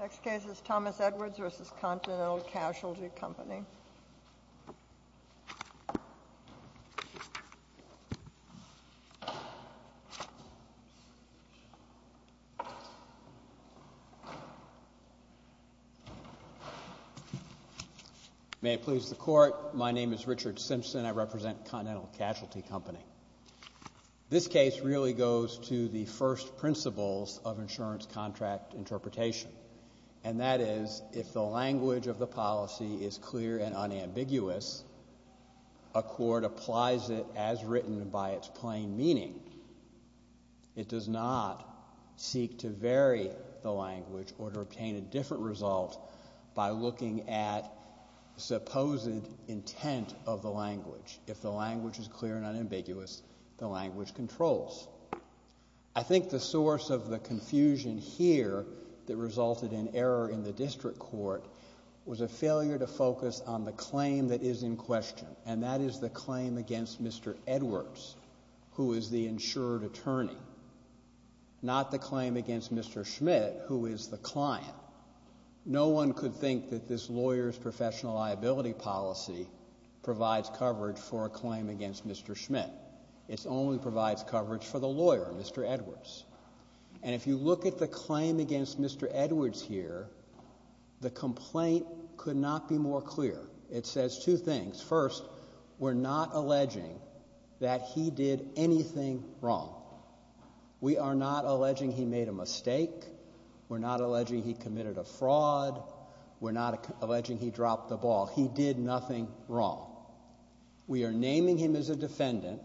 Next case is Thomas Edwards v. Continental Casualty Company May it please the Court. My name is Richard Simpson. I represent Continental Casualty Company. This case really goes to the first principles of insurance contract interpretation, that is, if the language of the policy is clear and unambiguous, a court applies it as written by its plain meaning. It does not seek to vary the language or to obtain a different result by looking at supposed intent of the language. If the language is clear and unambiguous, the language controls. I think the source of the confusion here that resulted in error in the district court was a failure to focus on the claim that is in question, and that is the claim against Mr. Edwards, who is the insured attorney, not the claim against Mr. Schmidt, who is the client. No one could think that this lawyer's professional liability policy provides coverage for a claim against Mr. Schmidt. It only provides coverage for the lawyer, Mr. Edwards. And if you look at the claim against Mr. Edwards here, the complaint could not be more clear. It says two things. First, we're not alleging that he did anything wrong. We are not alleging he made a mistake. We're not alleging he committed a fraud. We're not alleging he dropped the ball. He did nothing wrong. We are naming him as a defendant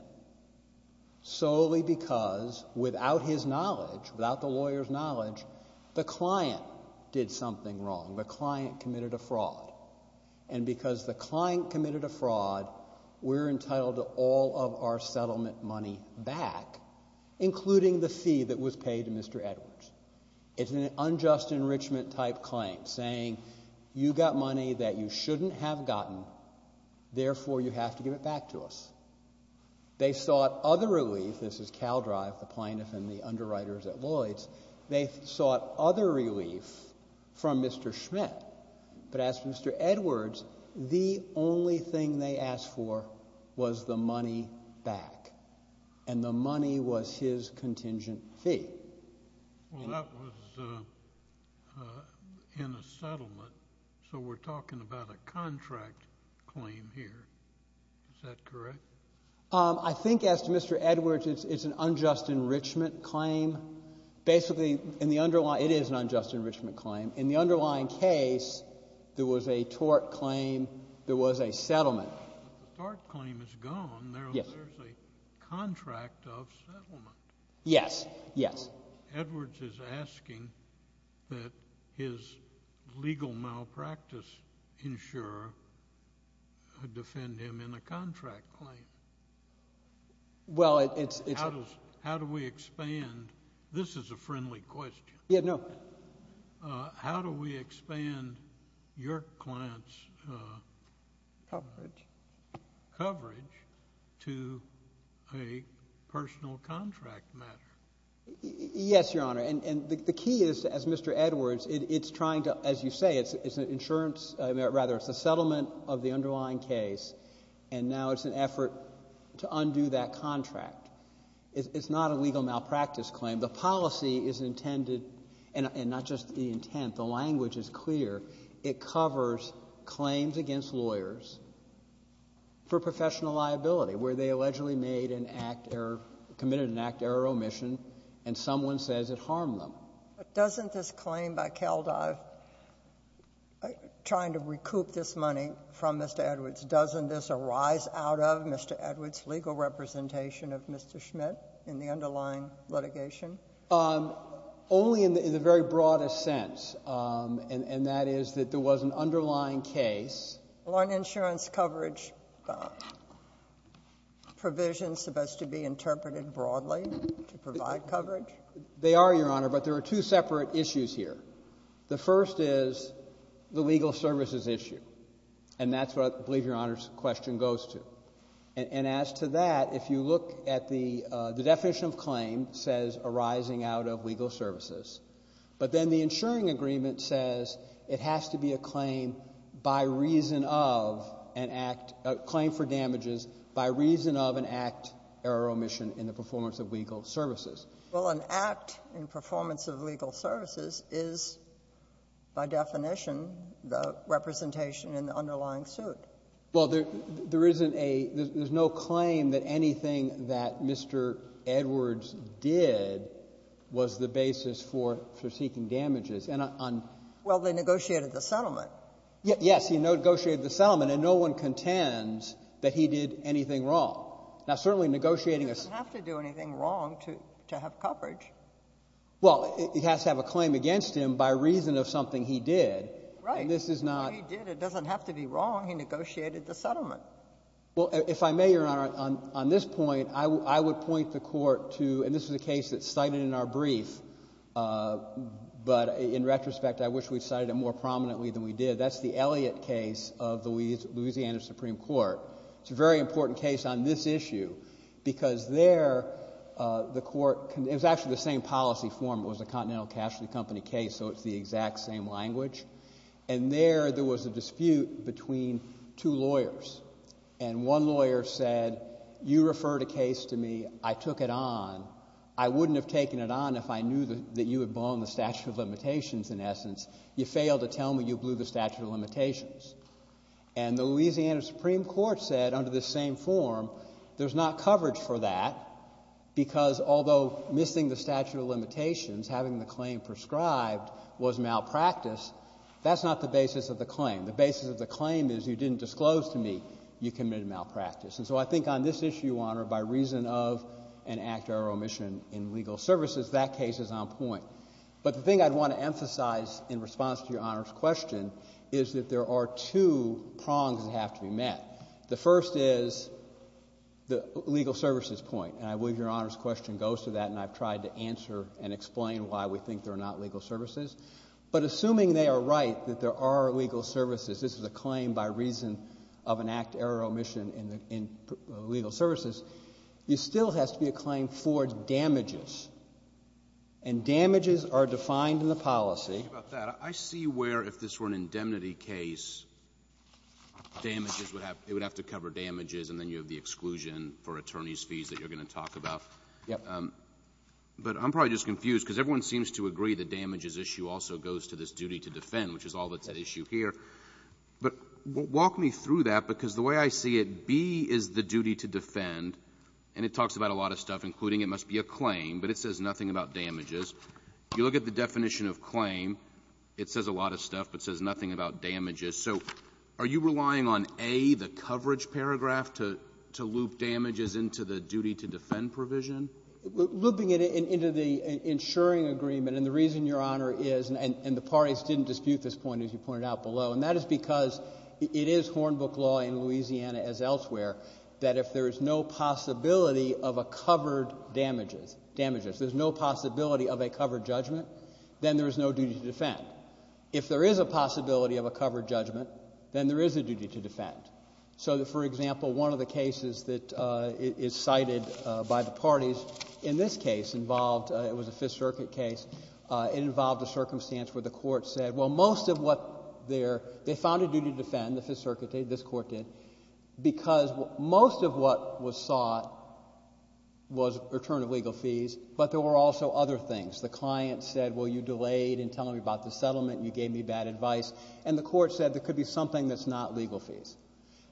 solely because, without his knowledge, without the lawyer's knowledge, the client did something wrong. The client committed a fraud. And because the client committed a fraud, we're entitled to all of our settlement money back, including the fee that was paid to Mr. Edwards. It's an unjust enrichment-type claim, saying you got money that you shouldn't have gotten, therefore you have to give it back to us. They sought other relief. This is CalDrive, the plaintiff and the underwriters at Lloyd's. They sought other relief from Mr. Schmidt. But as for Mr. Edwards, the only thing they asked for was the money back, and the money was his contingent fee. Well, that was in a settlement, so we're talking about a contract claim here. Is that correct? I think, as to Mr. Edwards, it's an unjust enrichment claim. Basically, in the underlying — it is an unjust enrichment claim. In the underlying case, there was a tort claim, there was a settlement. But the tort claim is gone. Yes. There's a contract of settlement. Yes. Yes. Edwards is asking that his legal malpractice insurer defend him in a contract claim. Well, it's — How do we expand — this is a friendly question. Yeah, no. How do we expand your client's — Coverage. — coverage to a personal contract matter? Yes, Your Honor. And the key is, as Mr. Edwards, it's trying to — as you say, it's an insurance — rather, it's a settlement of the underlying case, and now it's an effort to undo that contract. It's not a legal malpractice claim. The policy is intended — and not just the professional liability, where they allegedly made an act error — committed an act error omission, and someone says it harmed them. But doesn't this claim by Kaldive, trying to recoup this money from Mr. Edwards, doesn't this arise out of Mr. Edwards' legal representation of Mr. Schmidt in the underlying litigation? Only in the very broadest sense, and that is that there was an underlying case. Well, aren't insurance coverage provisions supposed to be interpreted broadly to provide coverage? They are, Your Honor, but there are two separate issues here. The first is the legal services issue, and that's what I believe Your Honor's question goes to. And as to that, if you look at the — the definition of claim says arising out of legal services, but then the insuring agreement says it has to be a claim by reason of an act — a claim for damages by reason of an act error omission in the performance of legal services. Well, an act in performance of legal services is, by definition, the representation in the underlying suit. Well, there isn't a — there's no claim that anything that Mr. Edwards did was the Well, they negotiated the settlement. Yes. He negotiated the settlement. And no one contends that he did anything wrong. Now, certainly negotiating a — He doesn't have to do anything wrong to have coverage. Well, he has to have a claim against him by reason of something he did. Right. And this is not — He did. It doesn't have to be wrong. He negotiated the settlement. Well, if I may, Your Honor, on this point, I would point the Court to — and this is a case that's cited in our brief, but in retrospect, I wish we'd cited it more prominently than we did. That's the Elliott case of the Louisiana Supreme Court. It's a very important case on this issue because there the Court — it was actually the same policy form. It was a Continental Cashly Company case, so it's the exact same language. And there, there was a dispute between two lawyers. And one lawyer said, you referred a case to me. I took it on. I wouldn't have taken it on if I knew that you had blown the statute of limitations in essence. You failed to tell me you blew the statute of limitations. And the Louisiana Supreme Court said under this same form, there's not coverage for that because although missing the statute of limitations, having the claim prescribed, was malpractice, that's not the basis of the claim. The basis of the claim is you didn't disclose to me you committed malpractice. And so I think on this issue, Your Honor, by reason of an act or omission in legal services, that case is on point. But the thing I'd want to emphasize in response to Your Honor's question is that there are two prongs that have to be met. The first is the legal services point. And I believe Your Honor's question goes to that, and I've tried to answer and explain why we think there are not legal services. But assuming they are right, that there are legal services, this is a claim by reason of an act or omission in legal services, there still has to be a claim for damages. And damages are defined in the policy. I see where if this were an indemnity case, damages would have to cover damages and then you have the exclusion for attorney's fees that you're going to talk about. Yes. But I'm probably just confused because everyone seems to agree that damages issue also goes to this duty to defend, which is all that's at issue here. But walk me through that, because the way I see it, B is the duty to defend, and it talks about a lot of stuff, including it must be a claim, but it says nothing about damages. If you look at the definition of claim, it says a lot of stuff, but it says nothing about damages. So are you relying on A, the coverage paragraph, to loop damages into the duty-to-defend provision? Looping it into the insuring agreement, and the reason, Your Honor, is, and the parties didn't dispute this point, as you pointed out below, and that is because it is Hornbook law in Louisiana as elsewhere, that if there is no possibility of a covered damages — damages — there's no possibility of a covered judgment, then there is no duty to defend. If there is a possibility of a covered judgment, then there is a duty to defend. So, for example, one of the cases that is cited by the parties in this case involved — it was a Fifth Circuit case — it involved a circumstance where the court said, well, most of what they're — they found a duty to defend, the Fifth Circuit did, this Court did, because most of what was sought was return of legal fees, but there were also other things. The client said, well, you delayed in telling me about the settlement, you gave me bad advice. And the court said there could be something that's not legal fees.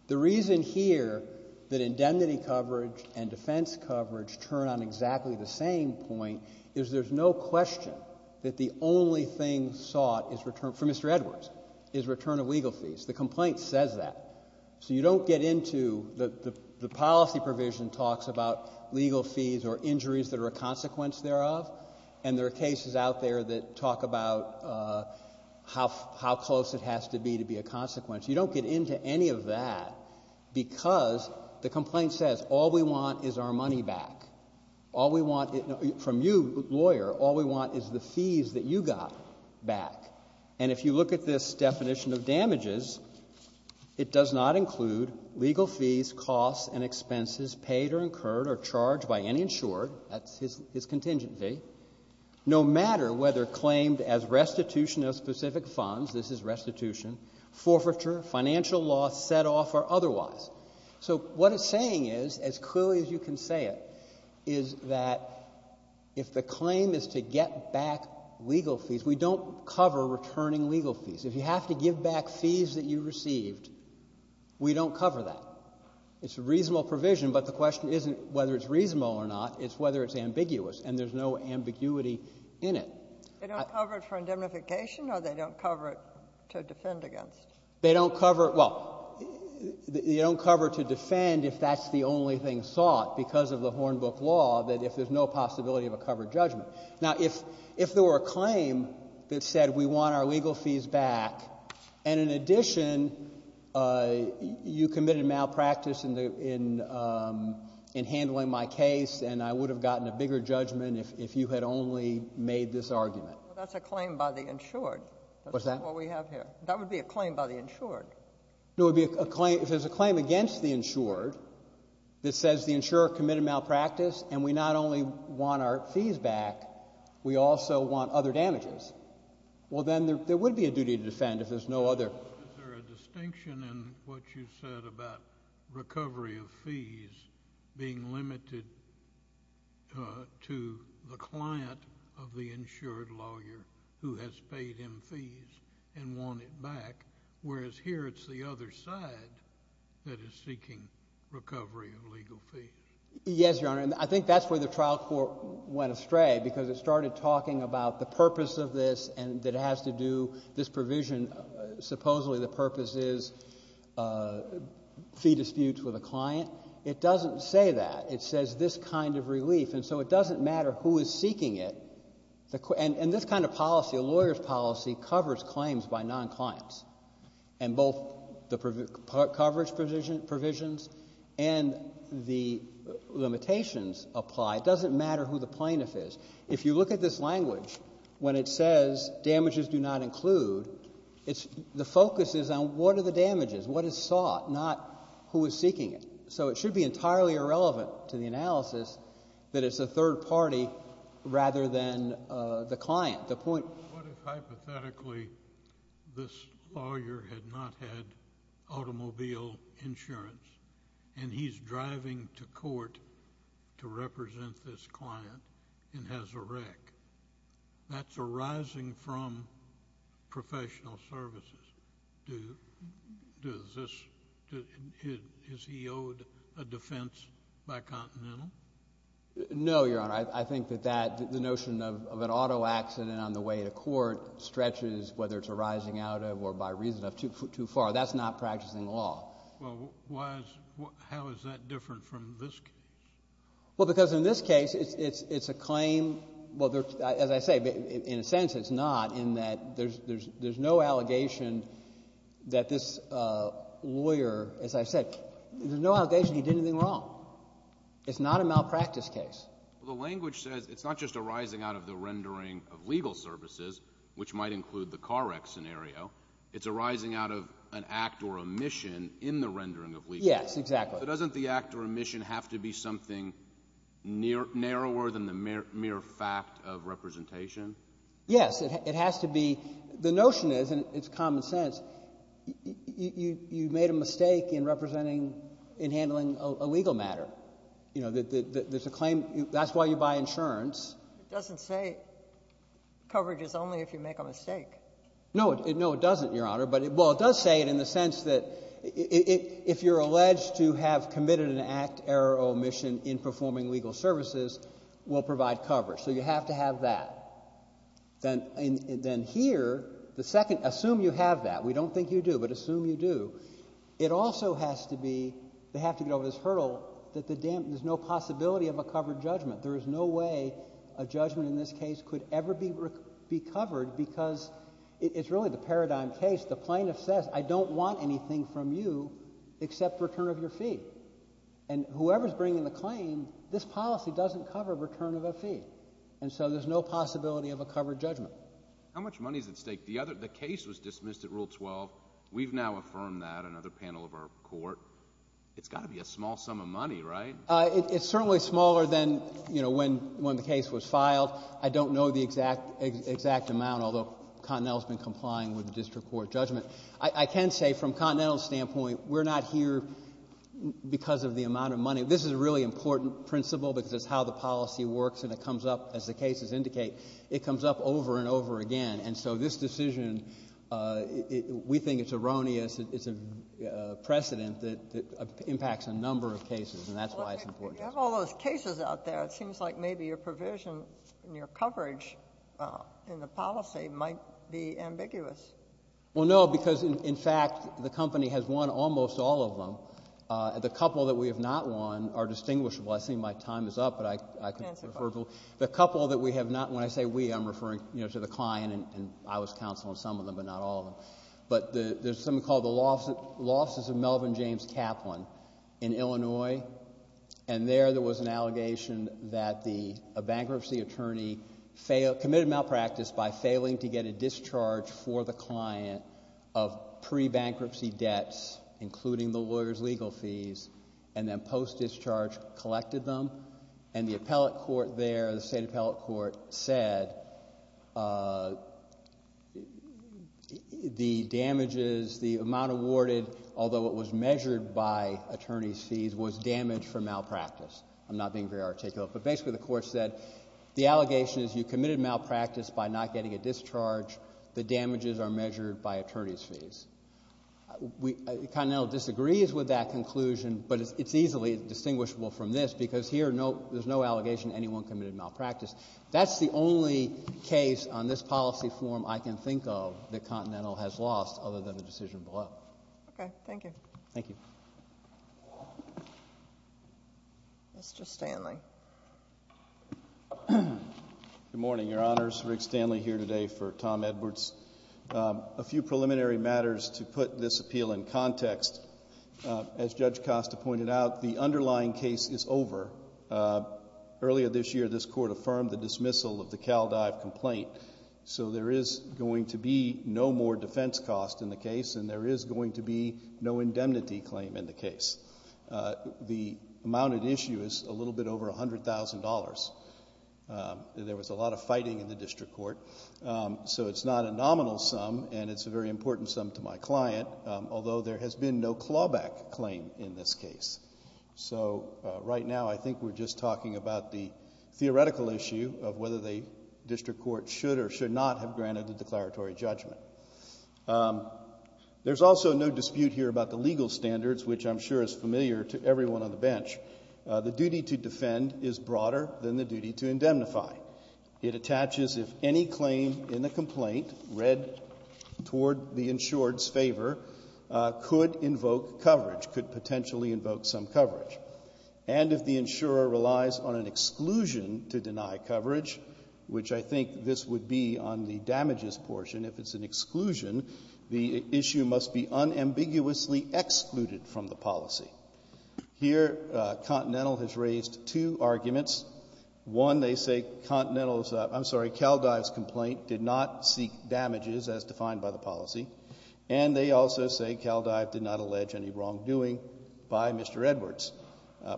The reason here that indemnity coverage and defense coverage turn on exactly the same point is there's no question that the only thing sought is return — for Mr. Edwards — is return of legal fees. The complaint says that. So you don't get into — the policy provision talks about legal fees or injuries that are a consequence thereof, and there are cases out there that talk about how close it has to be to be a consequence. You don't get into any of that because the complaint says all we want is our money back. All we want — from you, lawyer, all we want is the fees that you got back. And if you look at this definition of damages, it does not include legal fees, costs, and expenses paid or incurred or charged by any insured — that's his contingent fee — no matter whether claimed as restitution of specific funds. This is restitution. Forfeiture, financial loss, set-off, or otherwise. So what it's saying is, as clearly as you can say it, is that if the claim is to get back legal fees, we don't cover returning legal fees. If you have to give back fees that you received, we don't cover that. It's a reasonable provision, but the question isn't whether it's reasonable or not. It's whether it's ambiguous, and there's no ambiguity in it. They don't cover it for indemnification, or they don't cover it to defend against? They don't cover — well, you don't cover to defend if that's the only thing sought because of the Hornbook law, that if there's no possibility of a covered judgment. Now, if there were a claim that said we want our legal fees back, and in addition, you committed malpractice in handling my case, and I would have gotten a bigger judgment if you had only made this argument. Well, that's a claim by the insured. What's that? That's what we have here. That would be a claim by the insured. No, it would be a claim — if there's a claim against the insured that says the insurer committed malpractice, and we not only want our fees back, we also want other damages, well, then there would be a duty to defend if there's no other. Is there a distinction in what you said about recovery of fees being limited to the client of the insured lawyer who has paid him fees and want it back, whereas here it's the other side that is seeking recovery of legal fees? Yes, Your Honor, and I think that's where the trial court went astray because it started talking about the purpose of this and that it has to do — this provision, supposedly the purpose is fee disputes with a client. It doesn't say that. It says this kind of relief. And so it doesn't matter who is seeking it. And this kind of policy, a lawyer's policy, covers claims by non-clients. And both the coverage provisions and the limitations apply. It doesn't matter who the plaintiff is. If you look at this language, when it says damages do not include, it's — the focus is on what are the damages, what is sought, not who is seeking it. So it should be entirely irrelevant to the analysis that it's a third party rather than the client. The point — What if hypothetically this lawyer had not had automobile insurance and he's driving to court to represent this client and has a wreck? That's arising from professional services. Does this — is he owed a defense by Continental? No, Your Honor. I think that that — the notion of an auto accident on the way to court stretches, whether it's arising out of or by reason of, too far. That's not practicing law. Well, why is — how is that different from this case? Well, because in this case, it's a claim — well, as I say, in a sense it's not, in that there's no allegation that this lawyer — as I said, there's no allegation he did anything wrong. It's not a malpractice case. The language says it's not just arising out of the rendering of legal services, which might include the car wreck scenario. It's arising out of an act or omission in the rendering of legal services. Yes, exactly. So doesn't the act or omission have to be something narrower than the mere fact of representation? Yes. It has to be. The notion is, and it's common sense, you made a mistake in representing — in handling a legal matter. You know, there's a claim — that's why you buy insurance. It doesn't say coverage is only if you make a mistake. No. No, it doesn't, Your Honor. But — well, it does say it in the sense that if you're alleged to have committed an act, error, or omission in performing legal services, we'll provide coverage. So you have to have that. Then here, the second — assume you have that. We don't think you do, but assume you do. It also has to be — they have to get over this hurdle that the — there's no possibility of a covered judgment. There is no way a judgment in this case could ever be covered because it's really the paradigm case. The plaintiff says, I don't want anything from you except return of your fee. And whoever's bringing the claim, this policy doesn't cover return of a fee. And so there's no possibility of a covered judgment. How much money is at stake? The other — the case was dismissed at Rule 12. We've now affirmed that, another panel of our court. It's got to be a small sum of money, right? It's certainly smaller than, you know, when the case was filed. I don't know the exact amount, although Continental's been complying with the district court judgment. I can say, from Continental's standpoint, we're not here because of the amount of money. This is a really important principle because it's how the policy works, and it comes up, as the cases indicate, it comes up over and over again. And so this decision, we think it's erroneous. It's a precedent that impacts a number of cases, and that's why it's important. You have all those cases out there. It seems like maybe your provision in your coverage in the policy might be ambiguous. Well, no, because, in fact, the company has won almost all of them. The couple that we have not won are distinguishable. I think my time is up, but I can refer to — Answer the question. The couple that we have not won — when I say we, I'm referring, you know, to the client, and I was counsel on some of them, but not all of them. But there's something called the losses of Melvin James Kaplan in Illinois, and there there was an allegation that the — a bankruptcy attorney failed — committed malpractice by failing to get a discharge for the client of pre-bankruptcy debts, including the lawyer's legal fees, and then post-discharge collected them. And the appellate court there, the state appellate court, said the damages, the amount awarded, although it was measured by attorney's fees, was damage from malpractice. I'm not being very articulate, but basically the court said, the allegation is you committed malpractice by not getting a discharge. The damages are measured by attorney's fees. Continental disagrees with that conclusion, but it's easily distinguishable from this because here there's no allegation anyone committed malpractice. That's the only case on this policy form I can think of that Continental has lost other than the decision below. Okay. Thank you. Thank you. Mr. Stanley. Good morning, Your Honors. Rick Stanley here today for Tom Edwards. A few preliminary matters to put this appeal in context. As Judge Costa pointed out, the underlying case is over. Earlier this year, this Court affirmed the dismissal of the CalDive complaint, so there is going to be no more defense cost in the case and there is going to be no indemnity claim in the case. The amount at issue is a little bit over $100,000. There was a lot of fighting in the District Court, so it's not a nominal sum and it's a very important sum to my client, although there has been no clawback claim in this case. So right now I think we're just talking about the theoretical issue of whether the District Court should or should not have granted a declaratory judgment. There's also no dispute here about the legal standards, which I'm sure is familiar to everyone on the bench. The duty to defend is broader than the duty to indemnify. It attaches if any claim in the complaint read toward the insured's favor could invoke coverage, could potentially invoke some coverage. And if the insurer relies on an exclusion to deny coverage, which I think this would be on the damages portion, if it's an exclusion, the issue must be unambiguously excluded from the policy. Here, Continental has raised two arguments. One, they say Continental's, I'm sorry, Caldive's complaint did not seek damages as defined by the policy, and they also say Caldive did not allege any wrongdoing by Mr. Edwards.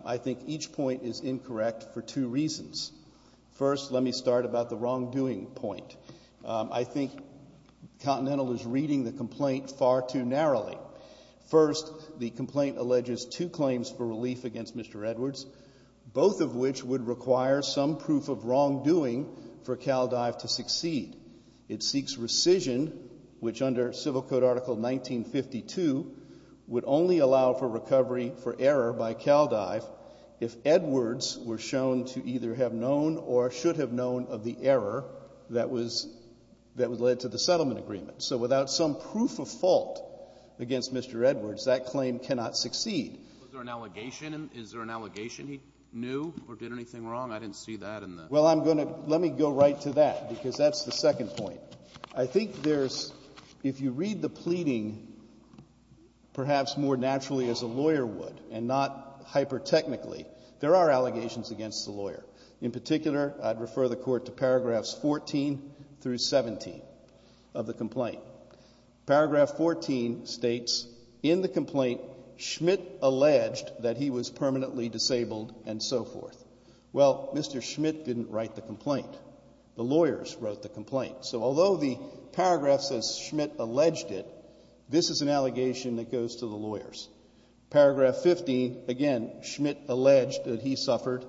I think each point is incorrect for two reasons. First, let me start about the wrongdoing point. I think Continental is reading the complaint far too narrowly. First, the complaint alleges two claims for relief against Mr. Edwards, both of which would require some proof of wrongdoing for Caldive to succeed. It seeks rescission, which under Civil Code Article 1952, would only allow for recovery for error by Caldive if Edwards were shown to either have known or should have known of the error that led to the settlement agreement. So without some proof of fault against Mr. Edwards, that claim cannot succeed. Was there an allegation? Is there an allegation he knew or did anything wrong? I didn't see that in the ---- Well, I'm going to ---- let me go right to that because that's the second point. I think there's, if you read the pleading, perhaps more naturally as a lawyer would and not hyper-technically, there are allegations against the lawyer. In particular, I'd refer the Court to paragraphs 14 through 17 of the complaint. Paragraph 14 states, in the complaint, Schmidt alleged that he was permanently disabled and so forth. Well, Mr. Schmidt didn't write the complaint. The lawyers wrote the complaint. So although the paragraph says Schmidt alleged it, this is an allegation that goes to the lawyers. Paragraph 15, again, Schmidt alleged that he suffered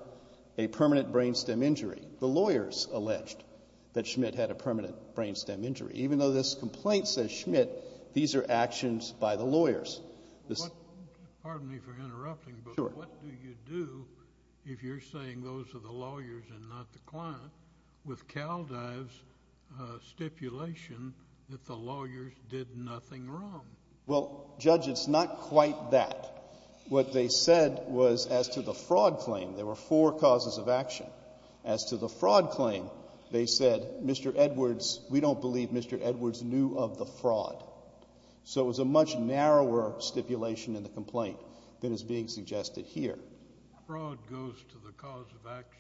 a permanent brain stem injury. The lawyers alleged that Schmidt had a permanent brain stem injury. Even though this complaint says Schmidt, these are actions by the lawyers. Pardon me for interrupting, but what do you do if you're saying those are the lawyers and not the client with Kaldive's stipulation that the lawyers did nothing wrong? Well, Judge, it's not quite that. What they said was as to the fraud claim, there were four causes of action. As to the fraud claim, they said, Mr. Edwards, we don't believe Mr. Edwards knew of the fraud. So it was a much narrower stipulation in the complaint than is being suggested here. Fraud goes to the cause of action?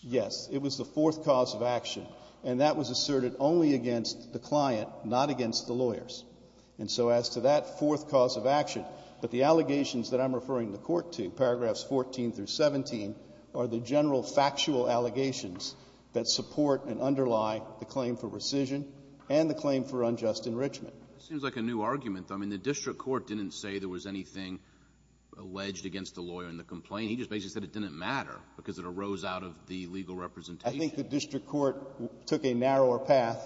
Yes. It was the fourth cause of action, and that was asserted only against the client, not against the lawyers. And so as to that fourth cause of action, but the allegations that I'm referring the Court to, paragraphs 14 through 17, are the general factual allegations that support and underlie the claim for rescission and the claim for unjust enrichment. It seems like a new argument, though. I mean, the district court didn't say there was anything alleged against the lawyer in the complaint. He just basically said it didn't matter because it arose out of the legal representation. I think the district court took a narrower path,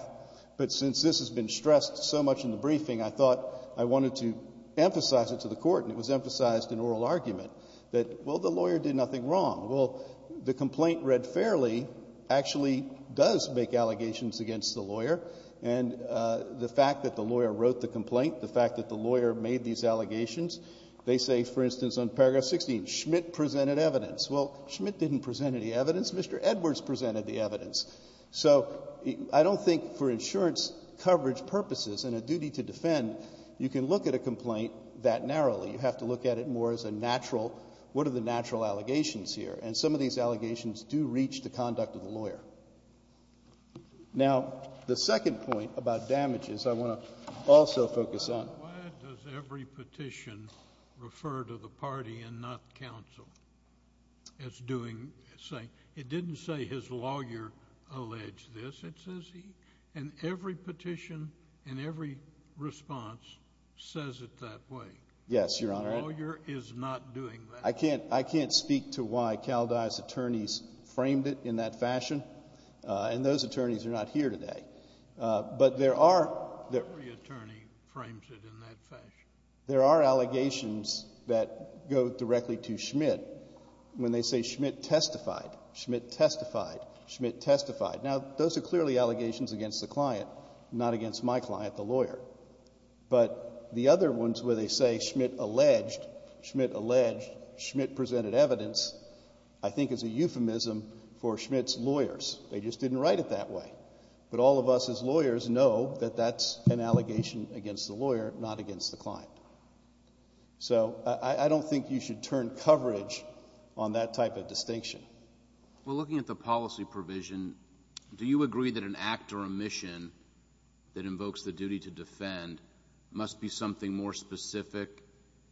but since this has been stressed so much in the briefing, I thought I wanted to emphasize it to the Court, and it was emphasized in oral argument that, well, the lawyer did nothing wrong. Well, the complaint read fairly actually does make allegations against the lawyer, and the fact that the lawyer wrote the complaint, the fact that the lawyer made these allegations, they say, for instance, on paragraph 16, Schmitt presented evidence. Well, Schmitt didn't present any evidence. Mr. Edwards presented the evidence. So I don't think for insurance coverage purposes and a duty to defend, you can look at a complaint that narrowly. You have to look at it more as a natural. What are the natural allegations here? And some of these allegations do reach the conduct of the lawyer. Now, the second point about damages I want to also focus on. Why does every petition refer to the party and not counsel as doing... It didn't say his lawyer alleged this. And every petition and every response says it that way. Yes, Your Honor. The lawyer is not doing that. I can't speak to why Caldine's attorneys framed it in that fashion. And those attorneys are not here today. But there are... Every attorney frames it in that fashion. There are allegations that go directly to Schmitt when they say Schmitt testified. Schmitt testified. Schmitt testified. Now, those are clearly allegations against the client, not against my client, the lawyer. But the other ones where they say Schmitt alleged, Schmitt alleged, Schmitt presented evidence I think is a euphemism for Schmitt's lawyers. They just didn't write it that way. But all of us as lawyers know that that's an allegation against the lawyer, not against the client. So, I don't think you should turn coverage on that type of distinction. Well, looking at the policy provision, do you agree that an act or omission that invokes the duty to defend must be something more specific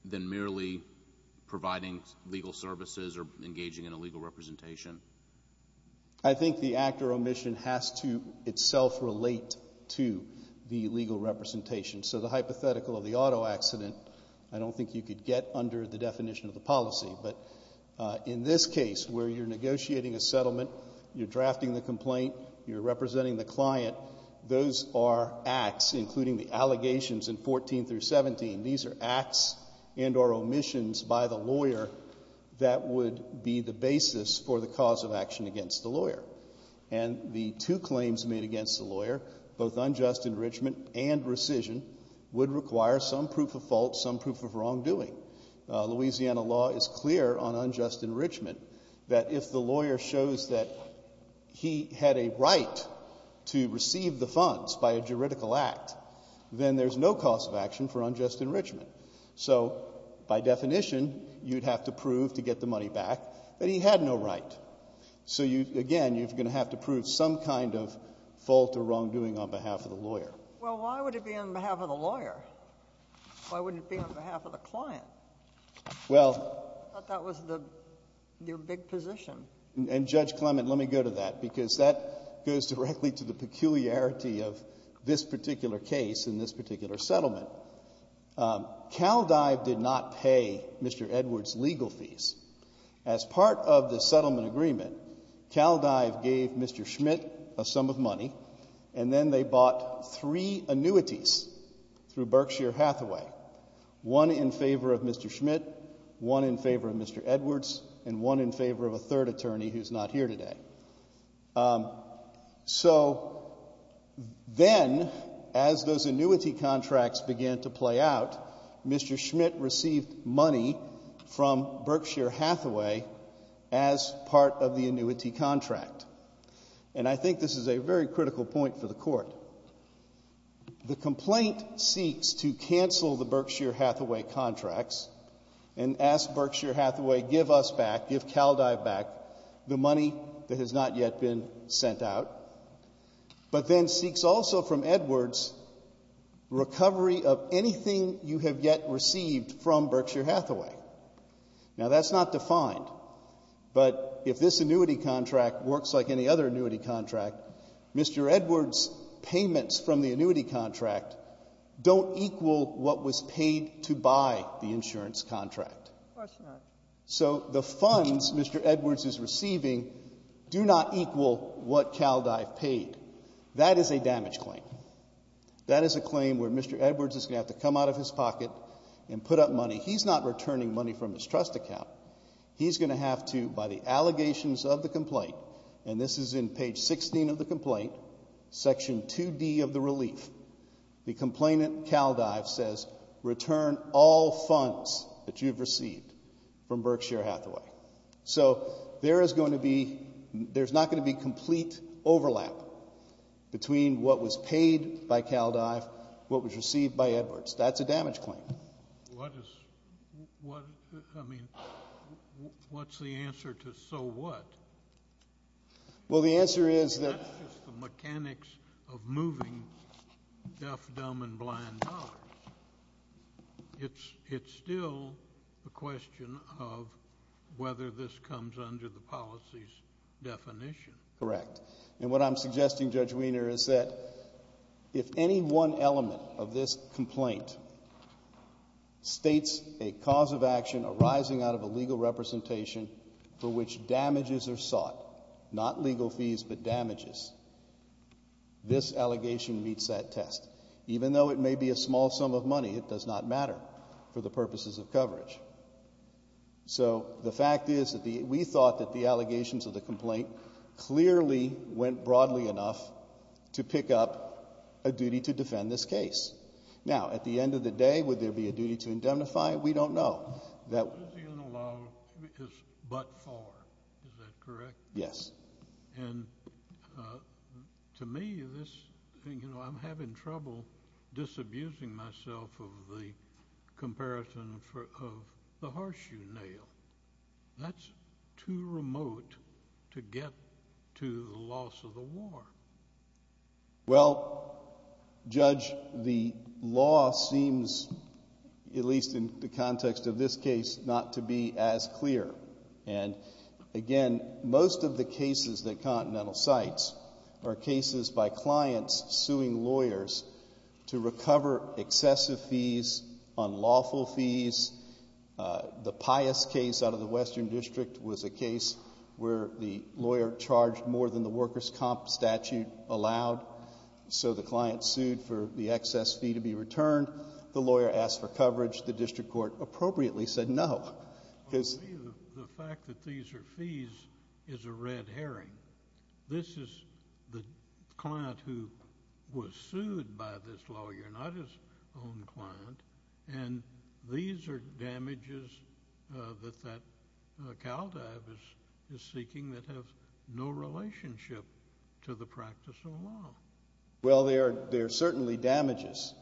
than merely providing legal services or engaging in a legal representation? I think the act or omission has to itself relate to the legal representation. So, the hypothetical of the auto accident I don't think you could get under the definition of the policy. But in this case, where you're negotiating a settlement, you're drafting the complaint, you're representing the client, those are acts, including the allegations in 14 through 17. These are acts and or omissions by the lawyer that would be the basis for the cause of action against the lawyer. And the two claims made against the lawyer, both unjust enrichment and rescission, would require some proof of fault, some proof of wrongdoing. Louisiana law is clear on unjust enrichment that if the lawyer shows that he had a right to receive the funds by a juridical act, then there's no cause of action for unjust enrichment. So, by definition, you'd have to prove, to get the money back, that he had no right. So, again, you're going to have to prove some kind of fault or wrongdoing on behalf of the lawyer. Well, why would it be on behalf of the lawyer? Why wouldn't it be on behalf of the client? Well... I thought that was your big position. And Judge Clement, let me go to that because that goes directly to the peculiarity of this particular case and this particular settlement. Caldive did not pay Mr. Edwards' legal fees. As part of the settlement agreement, Caldive gave Mr. Schmidt a sum of money and then they bought three annuities through Berkshire Hathaway. One in favor of Mr. Schmidt, one in favor of Mr. Edwards, and one in favor of a third attorney who's not here today. So, then, as those annuity contracts began to play out, Mr. Schmidt received money from Berkshire Hathaway as part of the annuity contract. And I think this is a very critical point for the Court. The complaint seeks to cancel the Berkshire Hathaway contracts and ask Berkshire Hathaway, give us back, give Caldive back the money that has not yet been sent out. But then seeks also from Edwards recovery of anything you have yet received from Berkshire Hathaway. Now, that's not defined, but if this annuity contract works like any other annuity contract, Mr. Edwards' payments from the annuity contract don't equal what was paid to buy the insurance contract. So, the funds Mr. Edwards is receiving do not equal what Caldive paid. That is a damage claim. That is a claim where Mr. Edwards is going to have to come out of his pocket and put up money. He's not returning money from his trust account. He's going to have to, by the allegations of the complaint, and this is in page 16 of the complaint, section 2D of the relief, the complainant Caldive says, return all funds that you've received from Berkshire Hathaway. So, there is going to be there's not going to be complete overlap between what was paid by Caldive and what was received by Edwards. That's a damage claim. I mean, what's the answer to so what? Well, the answer is that that's just the mechanics of moving deaf, dumb and blind dollars. It's still a question of whether this comes under the policy's definition. Correct. And what I'm suggesting, Judge Weiner, is that if any one element of this complaint states a cause of action arising out of a legal representation for which damages are sought not legal fees, but damages this allegation meets that test. Even though it may be a small sum of money, it does not matter for the purposes of coverage. So, the fact is that we thought that the allegations of the complaint clearly went broadly enough to pick up a duty to defend this case. Now, at the end of the day, would there be a duty to indemnify? We don't know. But for? Is that correct? Yes. And to me, I'm having trouble disabusing myself of the comparison of the horseshoe nail. That's too remote to get to the loss of the war. Well, Judge, the law seems at least in the context of this case, not to be as Again, most of the cases that Continental cites are cases by clients suing lawyers to recover excessive fees, unlawful fees. The Pius case out of the Western District was a case where the lawyer charged more than the workers' comp statute allowed. So the client sued for the excess fee to be returned. The lawyer asked for coverage. The district court appropriately said no. The fact that these are fees is a red herring. This is the client who was sued by this lawyer, not his own client. And these are damages that that CALDAB is seeking that have no relationship to the practice of law. Well, they are certainly damages.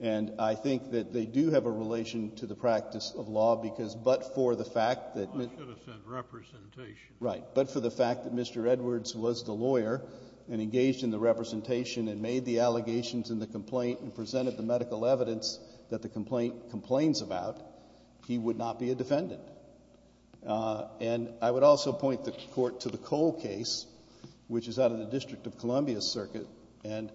And I think that they do have a relation to the practice of law because but for the fact that But for the fact that Mr. Edwards was the lawyer and engaged in the representation and made the allegations in the complaint and presented the medical evidence that the complaint complains about, he would not be a defendant. And I would also point the court to the Cole case which is out of the District of Columbia circuit. One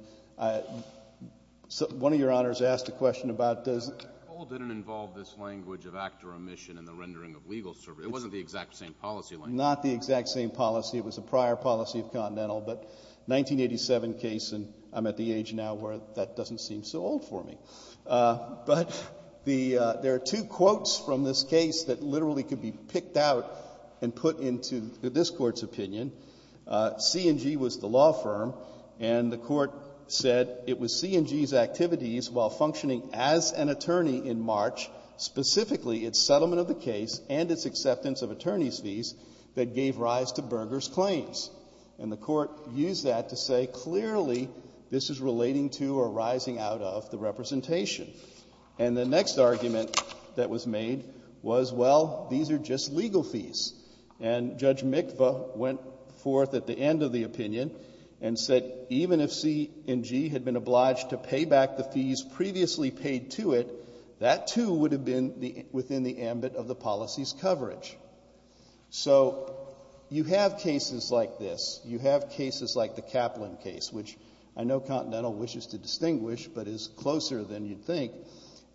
of your honors asked a question Cole didn't involve this language of act or omission in the rendering of legal service. It wasn't the exact same policy language. Not the exact same policy. It was a prior policy of Continental, but 1987 case, and I'm at the age now where that doesn't seem so old for me. But there are two quotes from this case that literally could be picked out and put into this Court's opinion. C&G was the law firm, and the Court said it was C&G's as an attorney in March, specifically its settlement of the case and its acceptance of attorney's fees that gave rise to Berger's claims. And the Court used that to say clearly this is relating to or rising out of the representation. And the next argument that was made was, well, these are just legal fees. And Judge Mikva went forth at the end of the opinion and said even if C&G had been obliged to pay back the fees previously paid to it, that too would have been within the ambit of the policy's coverage. So you have cases like this. You have cases like the Kaplan case, which I know Continental wishes to distinguish, but is closer than you'd think,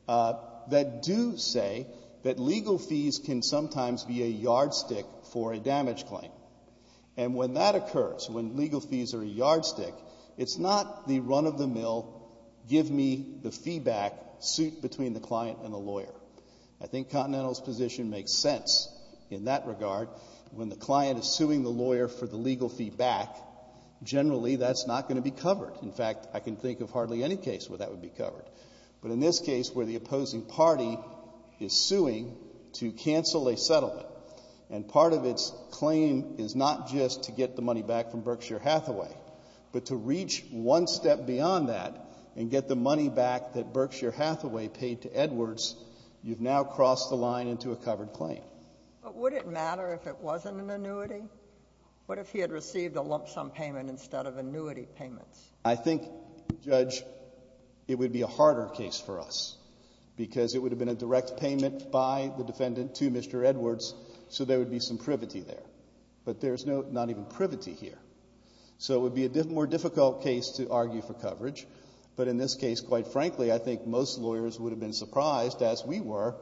that do say that legal fees can sometimes be a yardstick for a damage claim. And when that occurs, when legal fees are a yardstick, it's not the run-of-the-mill give-me-the-fee-back suit between the client and the lawyer. I think Continental's position makes sense in that regard. When the client is suing the lawyer for the legal fee back, generally that's not going to be covered. In fact, I can think of hardly any case where that would be covered. But in this case, where the opposing party is suing to cancel a settlement and part of its claim is not just to get the money back from Berkshire Hathaway, but to reach one step beyond that and get the money back that Berkshire Hathaway paid to Edwards, you've now crossed the line into a covered claim. But would it matter if it wasn't an annuity? What if he had received a lump-sum payment instead of annuity payments? I think, Judge, it would be a harder case for us because it would have been a direct payment by the defendant to Mr. Edwards so there would be some privity there. But there's not even privity here. So it would be a more difficult case to argue for coverage. But in this case, quite frankly, I think most lawyers would have been surprised, as we were,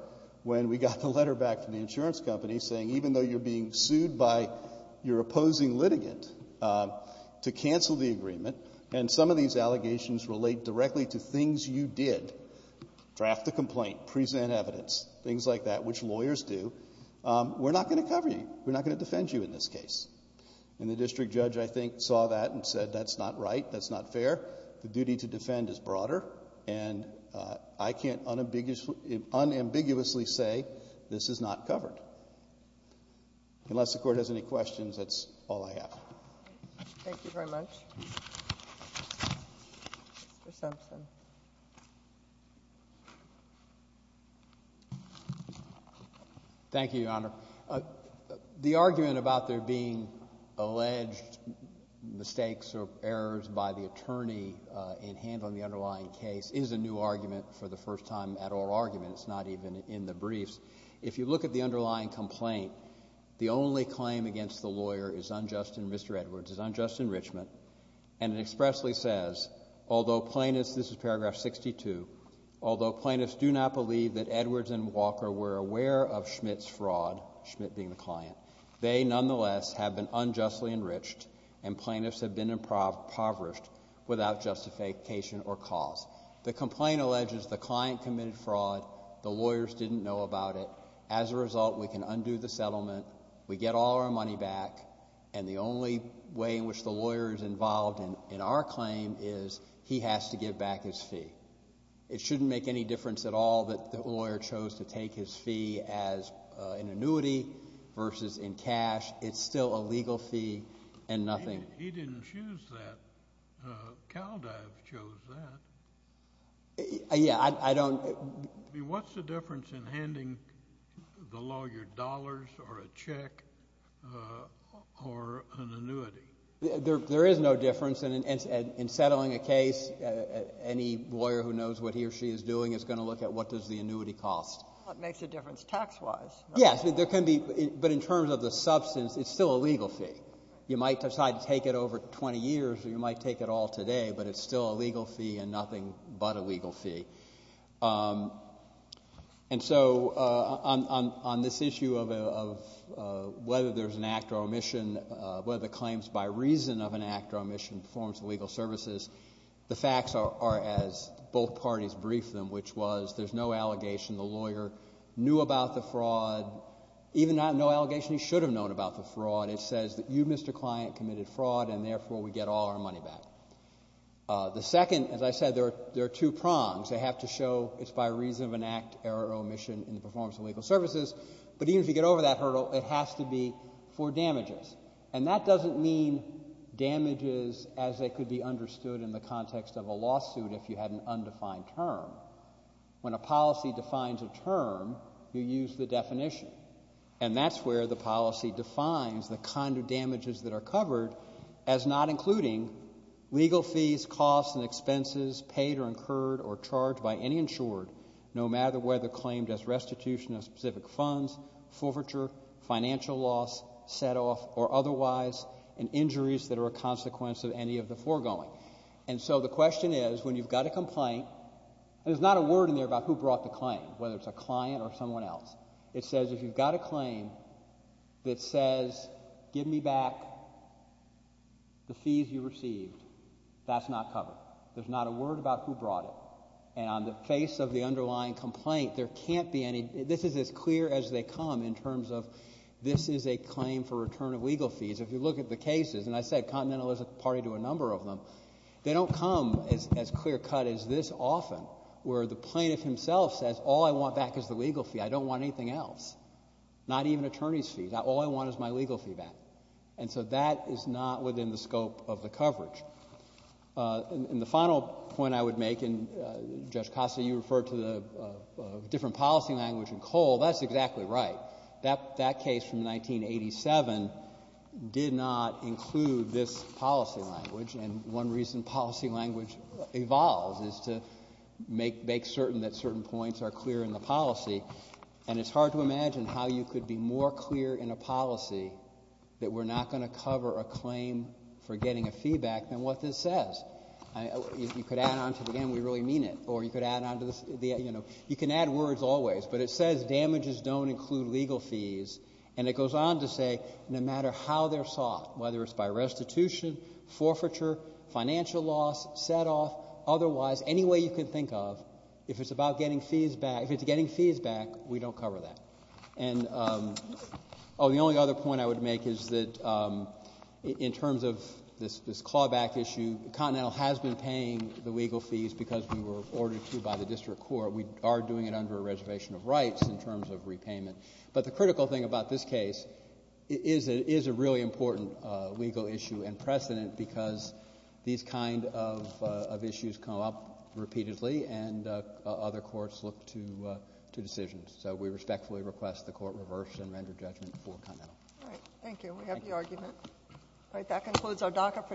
when we got the letter back from the insurance company saying, even though you're being sued by your opposing litigant to cancel the agreement, and some of these allegations relate directly to things you did, draft the complaint, present evidence, things like that, which lawyers do, we're not going to cover you. We're not going to defend you in this case. And the District Judge, I think, saw that and said, that's not right, that's not fair. The duty to defend is broader and I can't unambiguously say this is not covered. Unless the Court has any questions, that's all I have. Thank you very much. Mr. Simpson. Thank you, Your Honor. The argument about there being alleged mistakes or errors by the attorney in handling the underlying case is a new argument for the first time at oral argument. It's not even in the briefs. If you look at the underlying complaint, the only claim against the lawyer is unjust in, Mr. Edwards, is unjust although plaintiffs, this is not the case, this is not the case, this is not the case, this is paragraph 62, although plaintiffs do not believe that Edwards and Walker were aware of Schmidt's fraud, Schmidt being the client, they nonetheless have been unjustly enriched and plaintiffs have been impoverished without justification or cause. The complaint alleges the client committed fraud, the lawyers didn't know about it. As a result, we can undo the settlement, we get all our money back and the only way in which the lawyer is involved in our claim is he has to give back his fee. It shouldn't make any difference at all that the lawyer chose to take his fee as an annuity versus in cash. It's still a legal fee and nothing. He didn't choose that. Caldive chose that. Yeah, I don't What's the difference in handing the lawyer dollars or a check or an annuity? There is no difference and in settling a case any lawyer who knows what he or she is doing is going to look at what does the annuity cost. It makes a difference tax-wise. Yes, there can be, but in terms of the substance, it's still a legal fee. You might decide to take it over 20 years or you might take it all today but it's still a legal fee and nothing but a legal fee. And so on this issue of whether there's an act or omission, whether the claim's by reason of an act or omission in the performance of legal services, the facts are as both parties briefed them, which was there's no allegation the lawyer knew about the fraud, even no allegation he should have known about the fraud. It says that you, Mr. Client, committed fraud and therefore we get all our money back. The second, as I said, there are two prongs. They have to show it's by reason of an act or omission in the performance of legal services but even if you get over that hurdle, it has to be for damages. And that doesn't mean damages as they could be understood in the context of a lawsuit if you had an undefined term. When a policy defines a term, you use the definition. And that's where the policy defines the kind of damages that are covered as not including legal fees, costs and expenses paid or incurred or charged by any insured, no matter whether claimed as restitution of specific funds, forfeiture, financial loss, set off or otherwise and injuries that are a consequence of any of the foregoing. And so the question is, when you've got a complaint there's not a word in there about who brought the claim, whether it's a client or someone else. It says if you've got a claim that says give me back the fees you received, that's not covered. There's not a word about who brought it. And on the face of the underlying complaint there can't be any, this is as clear as they come in terms of this is a claim for return of legal fees. If you look at the cases, and I said Continental is a party to a number of them, they don't come as clear cut as this often, where the plaintiff himself says all I want back is the legal fee. I don't want anything else. Not even attorney's fees. All I want is my legal fee back. And so that is not within the scope of the coverage. And the final point I would make, and Judge Costa you referred to the different policy language in Cole, that's exactly right. That case from 1987 did not include this policy language, and one reason policy language evolves is to make certain that certain points are clear in the policy. And it's hard to imagine how you could be more clear in a policy that we're not going to cover a claim for getting a fee back than what it says. You could add on to the end, we really mean it, or you could add on to the end, you know, you can add words always, but it says damages don't include legal fees, and it goes on to say no matter how they're sought, whether it's by restitution, forfeiture, financial loss, set off, otherwise, any way you can think of, if it's about getting fees back, if it's getting fees back, we don't cover that. And the only other point I would make is that in terms of this clawback issue, Continental has been paying the legal fees because we were ordered to by the District Court. We are doing it under a reservation of rights in terms of repayment. But the critical thing about this case is it is a really important legal issue and precedent because these kind of issues come up repeatedly and other courts look to decisions. So we respectfully request the Court reverse and render judgment for Continental. All right. Thank you. We have the argument. All right. That concludes our docket for today.